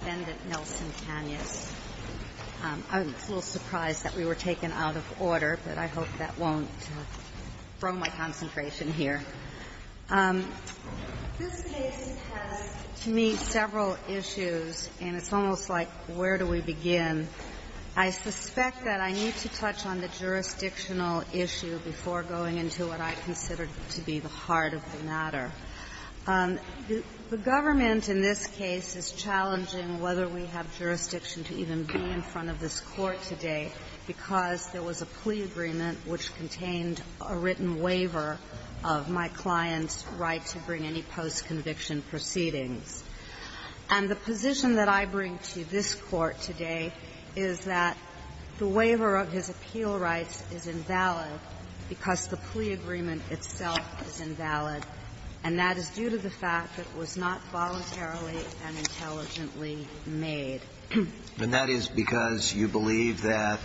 I was a little surprised that we were taken out of order, but I hope that won't throw my concentration here. This case has, to me, several issues, and it's almost like, where do we begin? I suspect that I need to touch on the jurisdictional issue before going into what I consider to be the heart of the matter. The government in this case is challenging whether we have jurisdiction to even be in front of this Court today, because there was a plea agreement which contained a written waiver of my client's right to bring any postconviction proceedings. And the position that I bring to this Court today is that the waiver of his appeal rights is invalid because the plea agreement itself is invalid, and that is due to the fact that it was not voluntarily and intelligently made. And that is because you believe that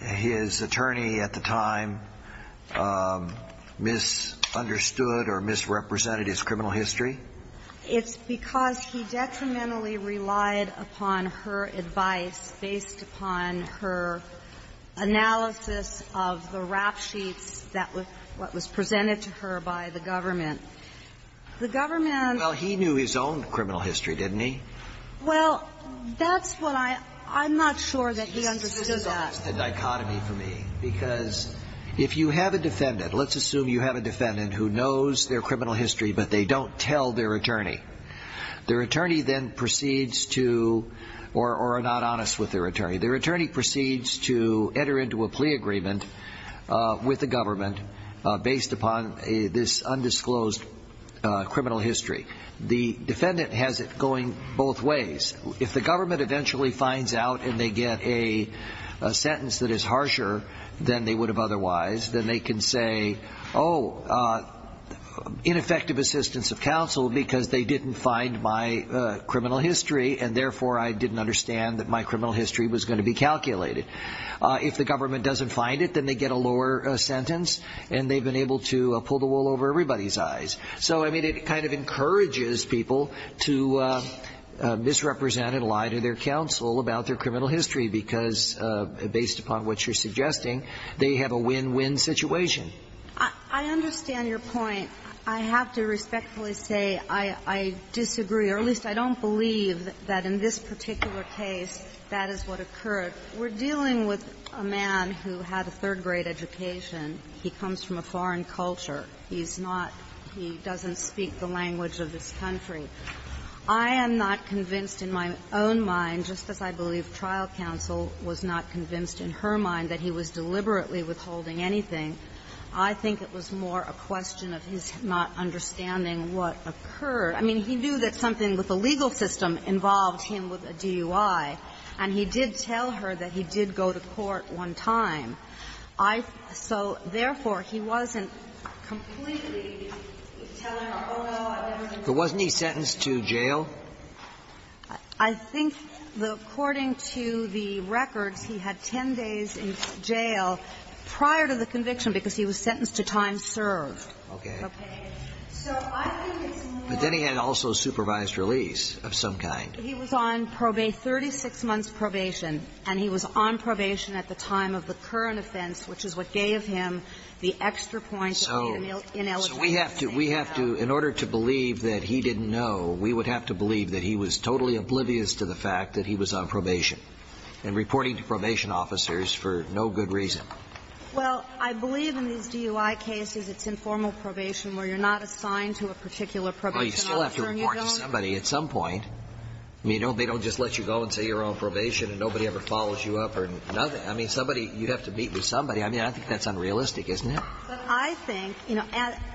his attorney at the time misunderstood or misrepresented his criminal history? It's because he detrimentally relied upon her advice based upon her analysis of the rap sheets that was presented to her by the government. The government ---- Well, he knew his own criminal history, didn't he? Well, that's what I ---- I'm not sure that he understood that. It's a dichotomy for me, because if you have a defendant, let's assume you have a defendant who knows their criminal history, but they don't tell their attorney. Their attorney then proceeds to ---- or are not honest with their attorney. Their attorney proceeds to enter into a plea agreement with the government based upon this undisclosed criminal history. The defendant has it going both ways. If the government eventually finds out and they get a sentence that is harsher than they would have otherwise, then they can say, oh, ineffective assistance of counsel because they didn't find my criminal history and therefore I didn't understand that my criminal history was going to be calculated. If the government doesn't find it, then they get a lower sentence and they've been able to pull the wool over everybody's eyes. So, I mean, it kind of encourages people to misrepresent and lie to their counsel about their criminal history because, based upon what you're suggesting, they have a win-win situation. I understand your point. I have to respectfully say I disagree, or at least I don't believe that in this particular case that is what occurred. We're dealing with a man who had a third-grade education. He comes from a foreign culture. He's not – he doesn't speak the language of this country. I am not convinced in my own mind, just as I believe trial counsel was not convinced in her mind that he was deliberately withholding anything. I think it was more a question of his not understanding what occurred. I mean, he knew that something with the legal system involved him with a DUI, and he did tell her that he did go to court one time. I – so, therefore, he wasn't completely telling her, oh, no, I've never done that. But wasn't he sentenced to jail? I think the – according to the records, he had 10 days in jail prior to the conviction because he was sentenced to time served. Okay. Okay. So I think it's more of a question of his not understanding what occurred. But then he had also supervised release of some kind. He was on probate – 36 months probation. And he was on probation at the time of the current offense, which is what gave him the extra points of the ineligibility. So we have to – we have to – in order to believe that he didn't know, we would have to believe that he was totally oblivious to the fact that he was on probation and reporting to probation officers for no good reason. Well, I believe in these DUI cases, it's informal probation where you're not assigned to a particular probation officer and you don't – You have to meet with somebody at some point. I mean, they don't just let you go and say you're on probation and nobody ever follows you up or nothing. I mean, somebody – you have to meet with somebody. I mean, I think that's unrealistic, isn't it? But I think – you know,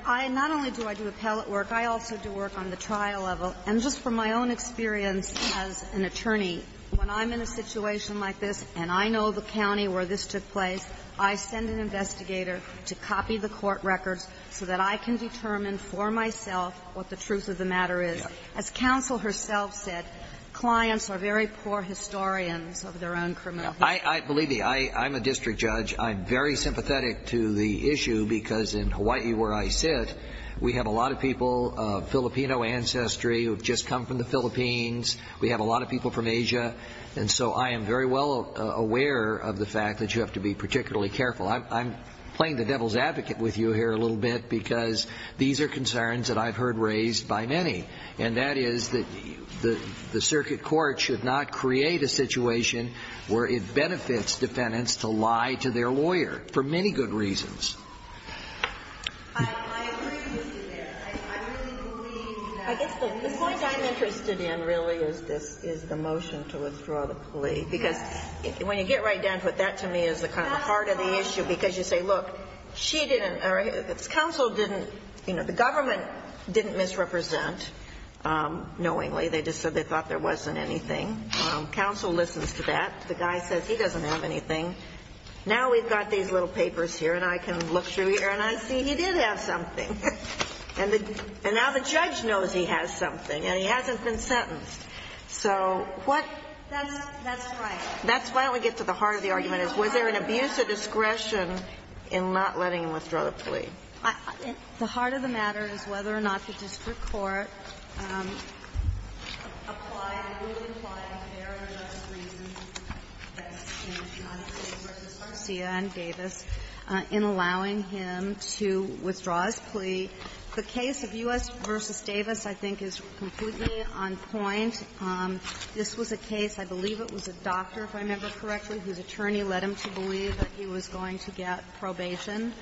not only do I do appellate work, I also do work on the trial level. And just from my own experience as an attorney, when I'm in a situation like this and I know the county where this took place, I send an investigator to copy the court as counsel herself said, clients are very poor historians of their own criminal history. I believe the – I'm a district judge. I'm very sympathetic to the issue because in Hawaii where I sit, we have a lot of people of Filipino ancestry who have just come from the Philippines. We have a lot of people from Asia. And so I am very well aware of the fact that you have to be particularly careful. I'm playing the devil's advocate with you here a little bit because these are concerns that I've heard raised by many. And that is that the circuit court should not create a situation where it benefits defendants to lie to their lawyer for many good reasons. I agree with you there. I really believe that – I guess the point I'm interested in really is this – is the motion to withdraw the plea. Yes. Because when you get right down to it, that to me is kind of the heart of the issue because you say, look, she didn't – or counsel didn't – you know, the government didn't misrepresent knowingly. They just said they thought there wasn't anything. Counsel listens to that. The guy says he doesn't have anything. Now we've got these little papers here and I can look through here and I see he did have something. And now the judge knows he has something and he hasn't been sentenced. So what – That's right. That's why we get to the heart of the argument is was there an abuse of discretion in not letting him withdraw the plea? The heart of the matter is whether or not the district court applied – really applied a fair enough reason, as in John Davis v. Garcia and Davis, in allowing him to withdraw his plea. The case of U.S. v. Davis I think is completely on point. This was a case, I believe it was a doctor, if I remember correctly, whose attorney led him to believe that he was going to get probation.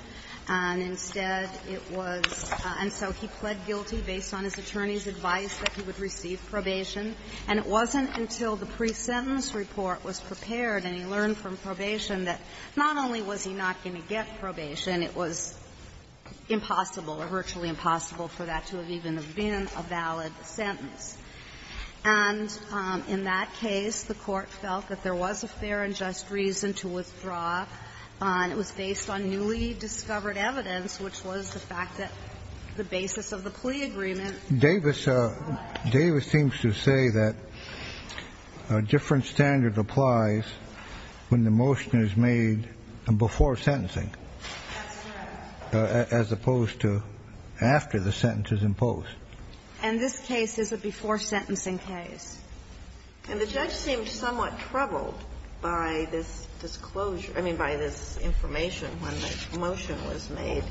And instead it was – and so he pled guilty based on his attorney's advice that he would receive probation. And it wasn't until the pre-sentence report was prepared and he learned from probation that not only was he not going to get probation, it was impossible or virtually impossible for that to have even been a valid sentence. And in that case, the Court felt that there was a fair and just reason to withdraw. And it was based on newly discovered evidence, which was the fact that the basis of the plea agreement – Davis seems to say that a different standard applies when the motion is made before sentencing. That's right. As opposed to after the sentence is imposed. And this case is a before-sentencing case. And the judge seemed somewhat troubled by this disclosure – I mean, by this information when the motion was made.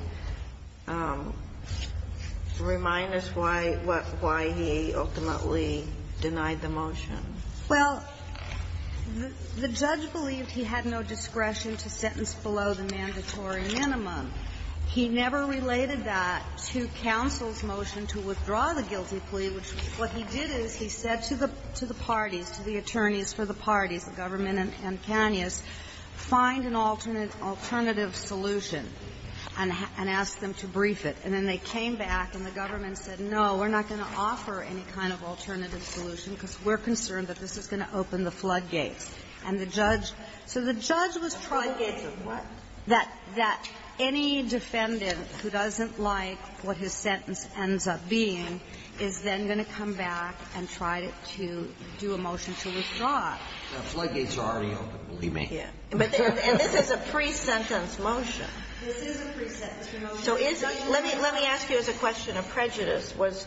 Remind us why he ultimately denied the motion. Well, the judge believed he had no discretion to sentence below the mandatory minimum. He never related that to counsel's motion to withdraw the guilty plea, which what he did is he said to the parties, to the attorneys for the parties, the government and Canius, find an alternative solution and ask them to brief it. And then they came back and the government said, no, we're not going to offer any kind of alternative solution because we're concerned that this is going to open the floodgates. And the judge – so the judge was trying to gauge that any defendant who doesn't like what his sentence ends up being is then going to come back and try to do a motion to withdraw. The floodgates are already open, believe me. And this is a pre-sentence motion. This is a pre-sentence motion. Let me ask you as a question of prejudice. Was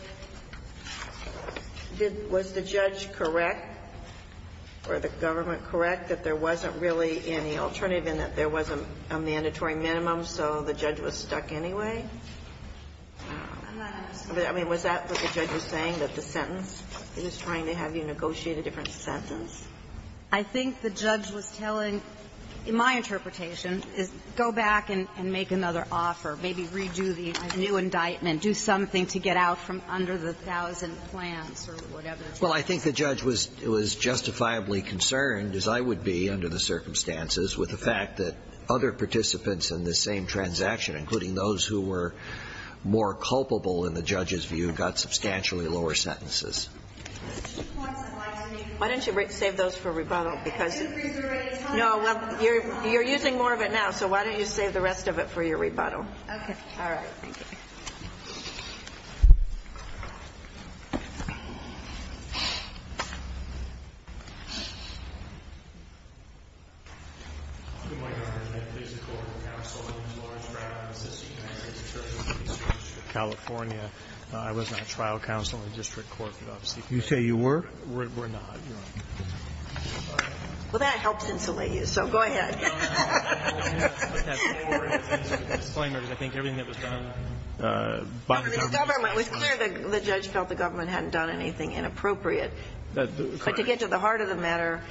the judge correct or the government correct that there wasn't really any alternative a mandatory minimum, so the judge was stuck anyway? I mean, was that what the judge was saying, that the sentence, he was trying to have you negotiate a different sentence? I think the judge was telling, in my interpretation, is go back and make another offer, maybe redo the new indictment, do something to get out from under the thousand plans or whatever. Well, I think the judge was justifiably concerned, as I would be under the circumstances, with the fact that other participants in the same transaction, including those who were more culpable in the judge's view, got substantially lower sentences. Why don't you save those for rebuttal? No, well, you're using more of it now, so why don't you save the rest of it for your rebuttal? Okay. All right. Thank you. California. I was not trial counsel in the district court. You say you were? We're not. Well, that helps insulate you, so go ahead. I think everything that was done by the government. It was clear the judge felt the government hadn't done anything inappropriate. But to get to the heart of the matter,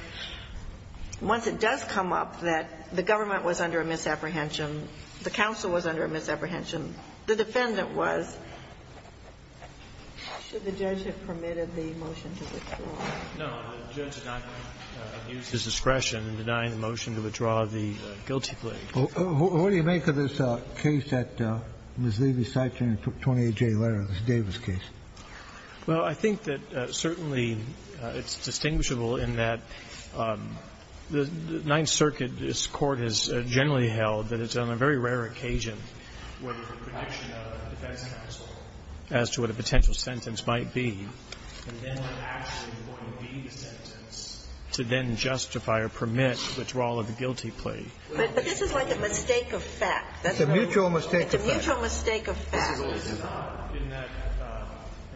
once it does come up that the government was under a misapprehension, the counsel was under a misapprehension, the defendant was. Should the judge have permitted the motion to withdraw? No. The judge did not use his discretion in denying the motion to withdraw the guilty plea. What do you make of this case that Ms. Levy cited in the 28J letter, the Davis case? Well, I think that certainly it's distinguishable in that the Ninth Circuit's court has generally held that it's on a very rare occasion where there's a prediction of a defense counsel as to what a potential sentence might be, and then what actually is going to be the sentence to then justify or permit withdrawal of the guilty plea. But this is like a mistake of fact. It's a mutual mistake of fact. It's a mutual mistake of fact. And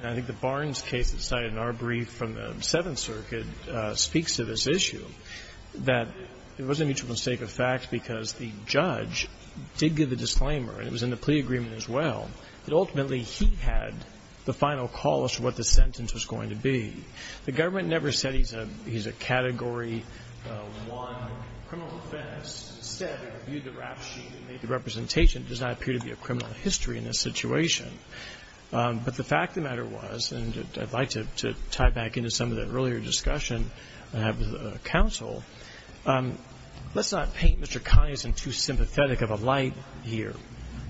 I think the Barnes case that's cited in our brief from the Seventh Circuit speaks to this issue, that it was a mutual mistake of fact because the judge did give the disclaimer, and it was in the plea agreement as well, that ultimately he had the final call as to what the sentence was going to be. The government never said he's a Category I criminal defense. But the fact of the matter was, and I'd like to tie back into some of the earlier discussion I had with the counsel, let's not paint Mr. Conyerson too sympathetic of a light here.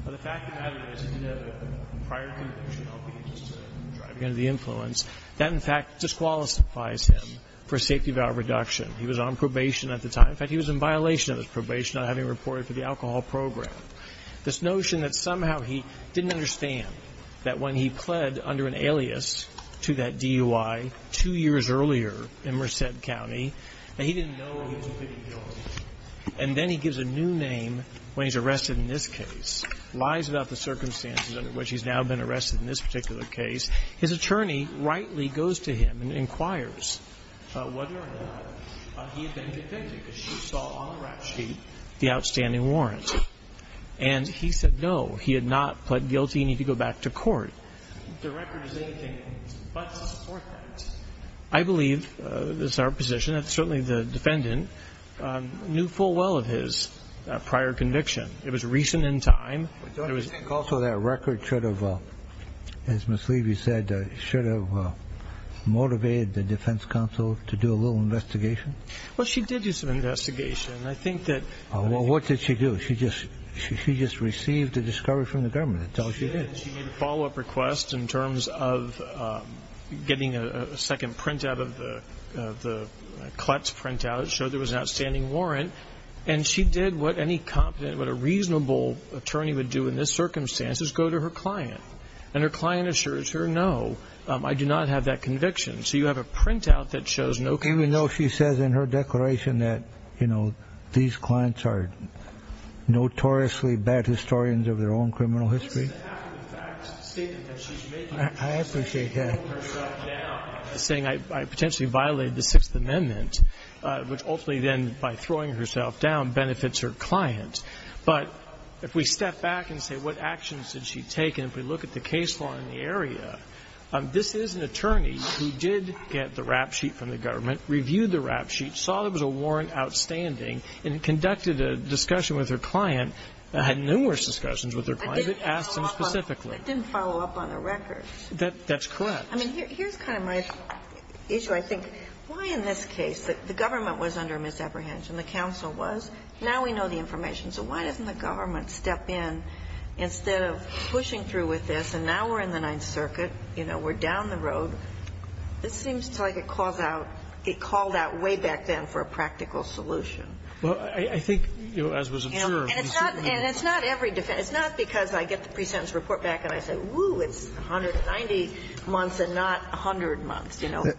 But the fact of the matter is, in a prior conviction, I'll be just driving under the influence, that, in fact, disqualifies him for safety value reduction. He was on probation at the time. In fact, he was in violation of his probation. He was on probation, not having reported for the alcohol program. This notion that somehow he didn't understand that when he pled under an alias to that DUI two years earlier in Merced County, that he didn't know he was completely guilty, and then he gives a new name when he's arrested in this case, lies about the circumstances under which he's now been arrested in this particular case. His attorney rightly goes to him and inquires whether or not he had been convicted because she saw on the rap sheet the outstanding warrant. And he said no, he had not pled guilty and he could go back to court. The record is anything but to support that. I believe this is our position. Certainly the defendant knew full well of his prior conviction. It was recent in time. It was also that record should have, as Ms. Levy said, should have motivated the defense counsel to do a little investigation. Well, she did do some investigation. And I think that... What did she do? She just received a discovery from the government. That's all she did. She made a follow-up request in terms of getting a second printout of the Kletz printout that showed there was an outstanding warrant. And she did what any competent, what a reasonable attorney would do in this circumstance is go to her client. And her client assures her, no, I do not have that conviction. So you have a printout that shows no conviction. Even though she says in her declaration that, you know, these clients are notoriously bad historians of their own criminal history? This is a fact of the fact statement that she's making. I appreciate that. She's throwing herself down, saying I potentially violated the Sixth Amendment, which ultimately then by throwing herself down benefits her client. But if we step back and say what actions did she take, and if we look at the case law in the area, this is an attorney who did get the rap sheet from the government, reviewed the rap sheet, saw there was a warrant outstanding, and conducted a discussion with her client, had numerous discussions with her client, but asked them specifically. I didn't follow up on the records. That's correct. I mean, here's kind of my issue. I think why in this case the government was under misapprehension, the counsel was. Now we know the information. So why doesn't the government step in instead of pushing through with this? And now we're in the Ninth Circuit. We're down the road. This seems like it called out way back then for a practical solution. Well, I think as was assured. And it's not every defense. It's not because I get the pre-sentence report back and I say, woo, it's 190 months and not 100 months.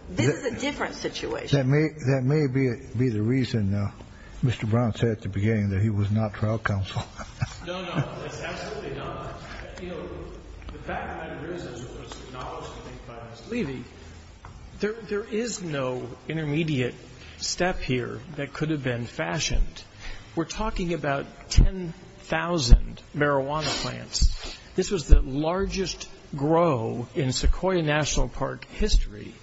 This is a different situation. That may be the reason Mr. Brown said at the beginning that he was not trial counsel. No, no. It's absolutely not. The fact of the matter is, as was acknowledged I think by Ms. Levy, there is no intermediate step here that could have been fashioned. We're talking about 10,000 marijuana plants. This was the largest grow in Sequoia National Park history.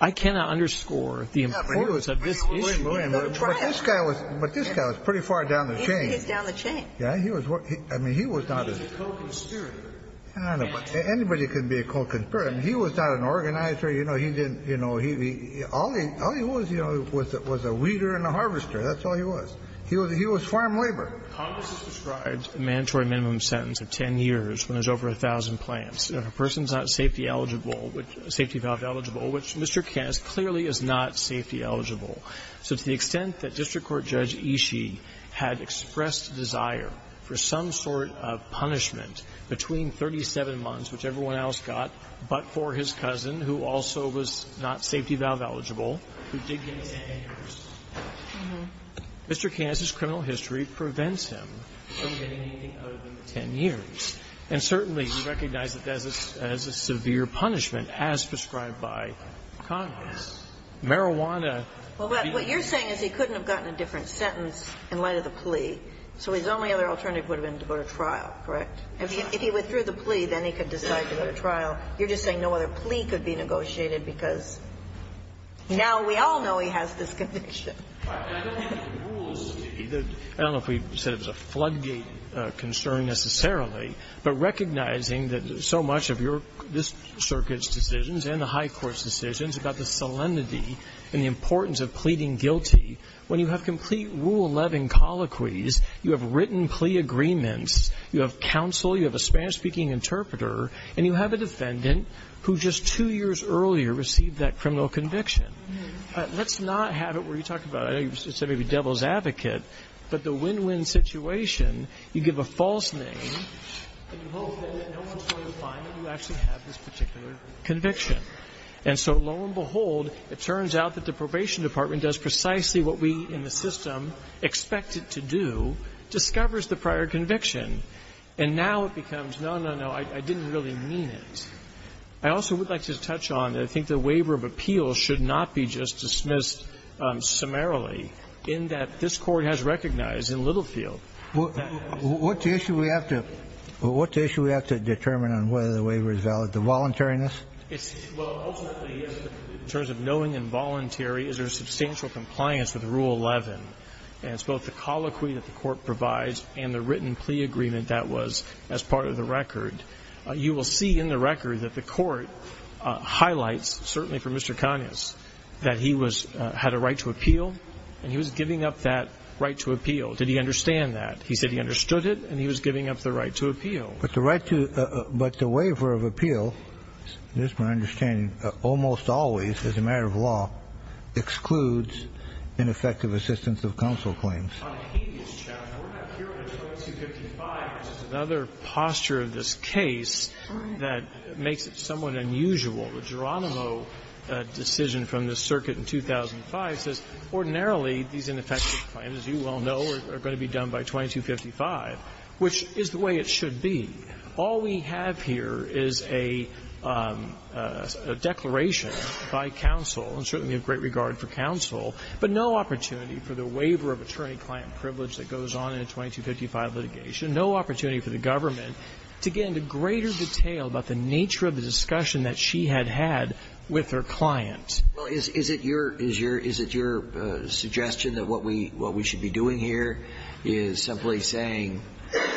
I cannot underscore the importance of this issue. But this guy was pretty far down the chain. He's down the chain. He was a co-conspirator. Anybody can be a co-conspirator. He was not an organizer. All he was was a weeder and a harvester. That's all he was. He was farm labor. Congress has described a mandatory minimum sentence of 10 years when there's over 1,000 plants. If a person's not safety eligible, safety valve eligible, which Mr. Kast clearly is not safety eligible. So to the extent that District Court Judge Ishii had expressed desire for some sort of punishment between 37 months, which everyone else got, but for his cousin, who also was not safety valve eligible, who did get 10 years, Mr. Kast's criminal history prevents him from getting anything other than 10 years. And certainly we recognize that that is a severe punishment as prescribed by Congress. Marijuana. Well, but what you're saying is he couldn't have gotten a different sentence in light of the plea. So his only other alternative would have been to go to trial, correct? If he withdrew the plea, then he could decide to go to trial. You're just saying no other plea could be negotiated because now we all know he has this conviction. I don't think the rules would be. I don't know if we said it was a floodgate concern necessarily, but recognizing that so much of your this circuit's decisions and the high court's decisions about the solemnity and the importance of pleading guilty, when you have complete rule-loving colloquies, you have written plea agreements, you have counsel, you have a Spanish-speaking interpreter, and you have a defendant who just two years earlier received that criminal conviction. Let's not have it where you talk about, I know you said maybe devil's advocate, but the win-win situation, you give a false name and you hope that no one's going to find that you actually have this particular conviction. And so lo and behold, it turns out that the Probation Department does precisely what we in the system expect it to do, discovers the prior conviction. And now it becomes, no, no, no, I didn't really mean it. I also would like to touch on, and I think the waiver of appeals should not be just dismissed summarily, in that this Court has recognized in Littlefield that there is an issue. What's the issue we have to determine on whether the waiver is valid? The voluntariness? Well, ultimately, in terms of knowing involuntary, is there substantial compliance with Rule 11? And it's both the colloquy that the Court provides and the written plea agreement that was as part of the record. You will see in the record that the Court highlights, certainly for Mr. Conyers, that he had a right to appeal, and he was giving up that right to appeal. Did he understand that? He said he understood it, and he was giving up the right to appeal. But the waiver of appeal, it is my understanding, almost always, as a matter of law, excludes ineffective assistance of counsel claims. On a habeas challenge, we're not hearing a 255, which is another posture of this case that makes it somewhat unusual. The Geronimo decision from the circuit in 2005 says, ordinarily, these ineffective claims, as you well know, are going to be done by 2255, which is the way it should be. All we have here is a declaration by counsel, and certainly we have great regard for counsel, but no opportunity for the waiver of attorney-client privilege that goes on in a 2255 litigation, no opportunity for the government to get into the way that counsel had had with their client. Well, is it your suggestion that what we should be doing here is simply saying,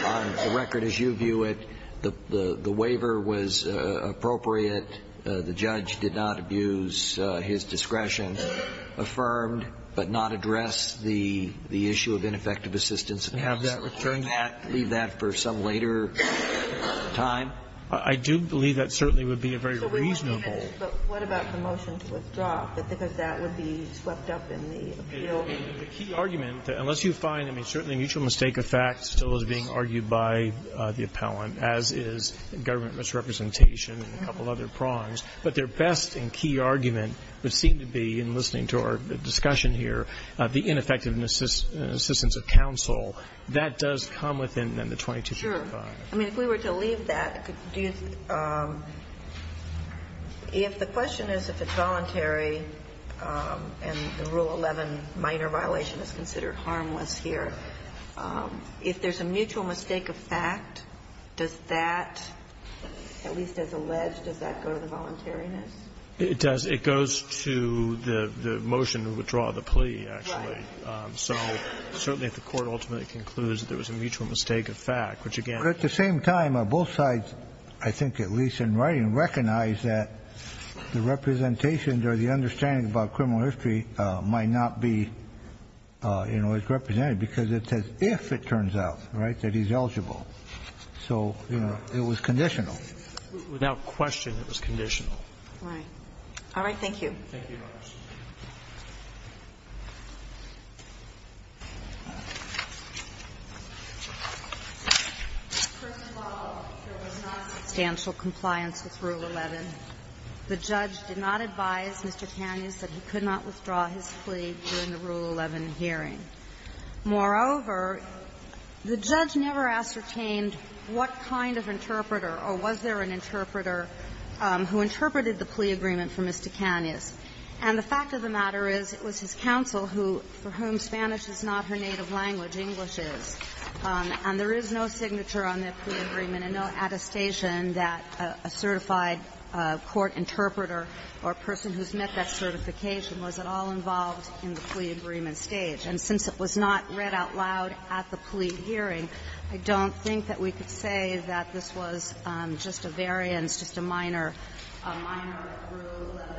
on the record as you view it, the waiver was appropriate, the judge did not abuse his discretion, affirmed, but not addressed the issue of ineffective assistance of counsel? And have that returned? Leave that for some later time? I do believe that certainly would be a very reasonable. But what about the motion to withdraw? Because that would be swept up in the appeal. The key argument, unless you find, I mean, certainly mutual mistake effect still is being argued by the appellant, as is government misrepresentation and a couple other prongs. But their best and key argument would seem to be, in listening to our discussion here, the ineffective assistance of counsel. That does come within the 2255. I mean, if we were to leave that, if the question is if it's voluntary and Rule 11, minor violation, is considered harmless here, if there's a mutual mistake effect, does that, at least as alleged, does that go to the voluntariness? It does. It goes to the motion to withdraw the plea, actually. Right. So certainly if the Court ultimately concludes that there was a mutual mistake effect, which, again ---- But at the same time, both sides, I think at least in writing, recognize that the representations or the understanding about criminal history might not be, you know, as represented. Because it says if, it turns out, right, that he's eligible. So, you know, it was conditional. Without question, it was conditional. Right. All right. Thank you, Your Honor. First of all, there was not substantial compliance with Rule 11. The judge did not advise Mr. Kanyas that he could not withdraw his plea during the Rule 11 hearing. Moreover, the judge never ascertained what kind of interpreter or was there an interpreter who interpreted the plea agreement for Mr. Kanyas. And the fact of the matter is it was his counsel who, for whom Spanish is not her native language, English is. And there is no signature on that plea agreement and no attestation that a certified court interpreter or person who's met that certification was at all involved in the plea agreement stage. And since it was not read out loud at the plea hearing, I don't think that we could say that this was just a variance, just a minor, a minor Rule 11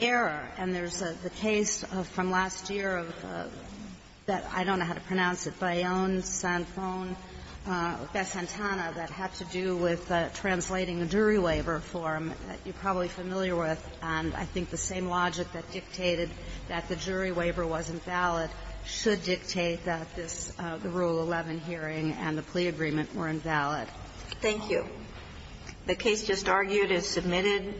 error. And there's the case from last year that I don't know how to pronounce it, Bayonne-Sanfone-Bessantana, that had to do with translating a jury waiver form that you're probably familiar with, and I think the same logic that dictated that the jury waiver wasn't valid should dictate that this, the Rule 11 hearing and the plea agreement were invalid. Thank you. The case just argued is submitted.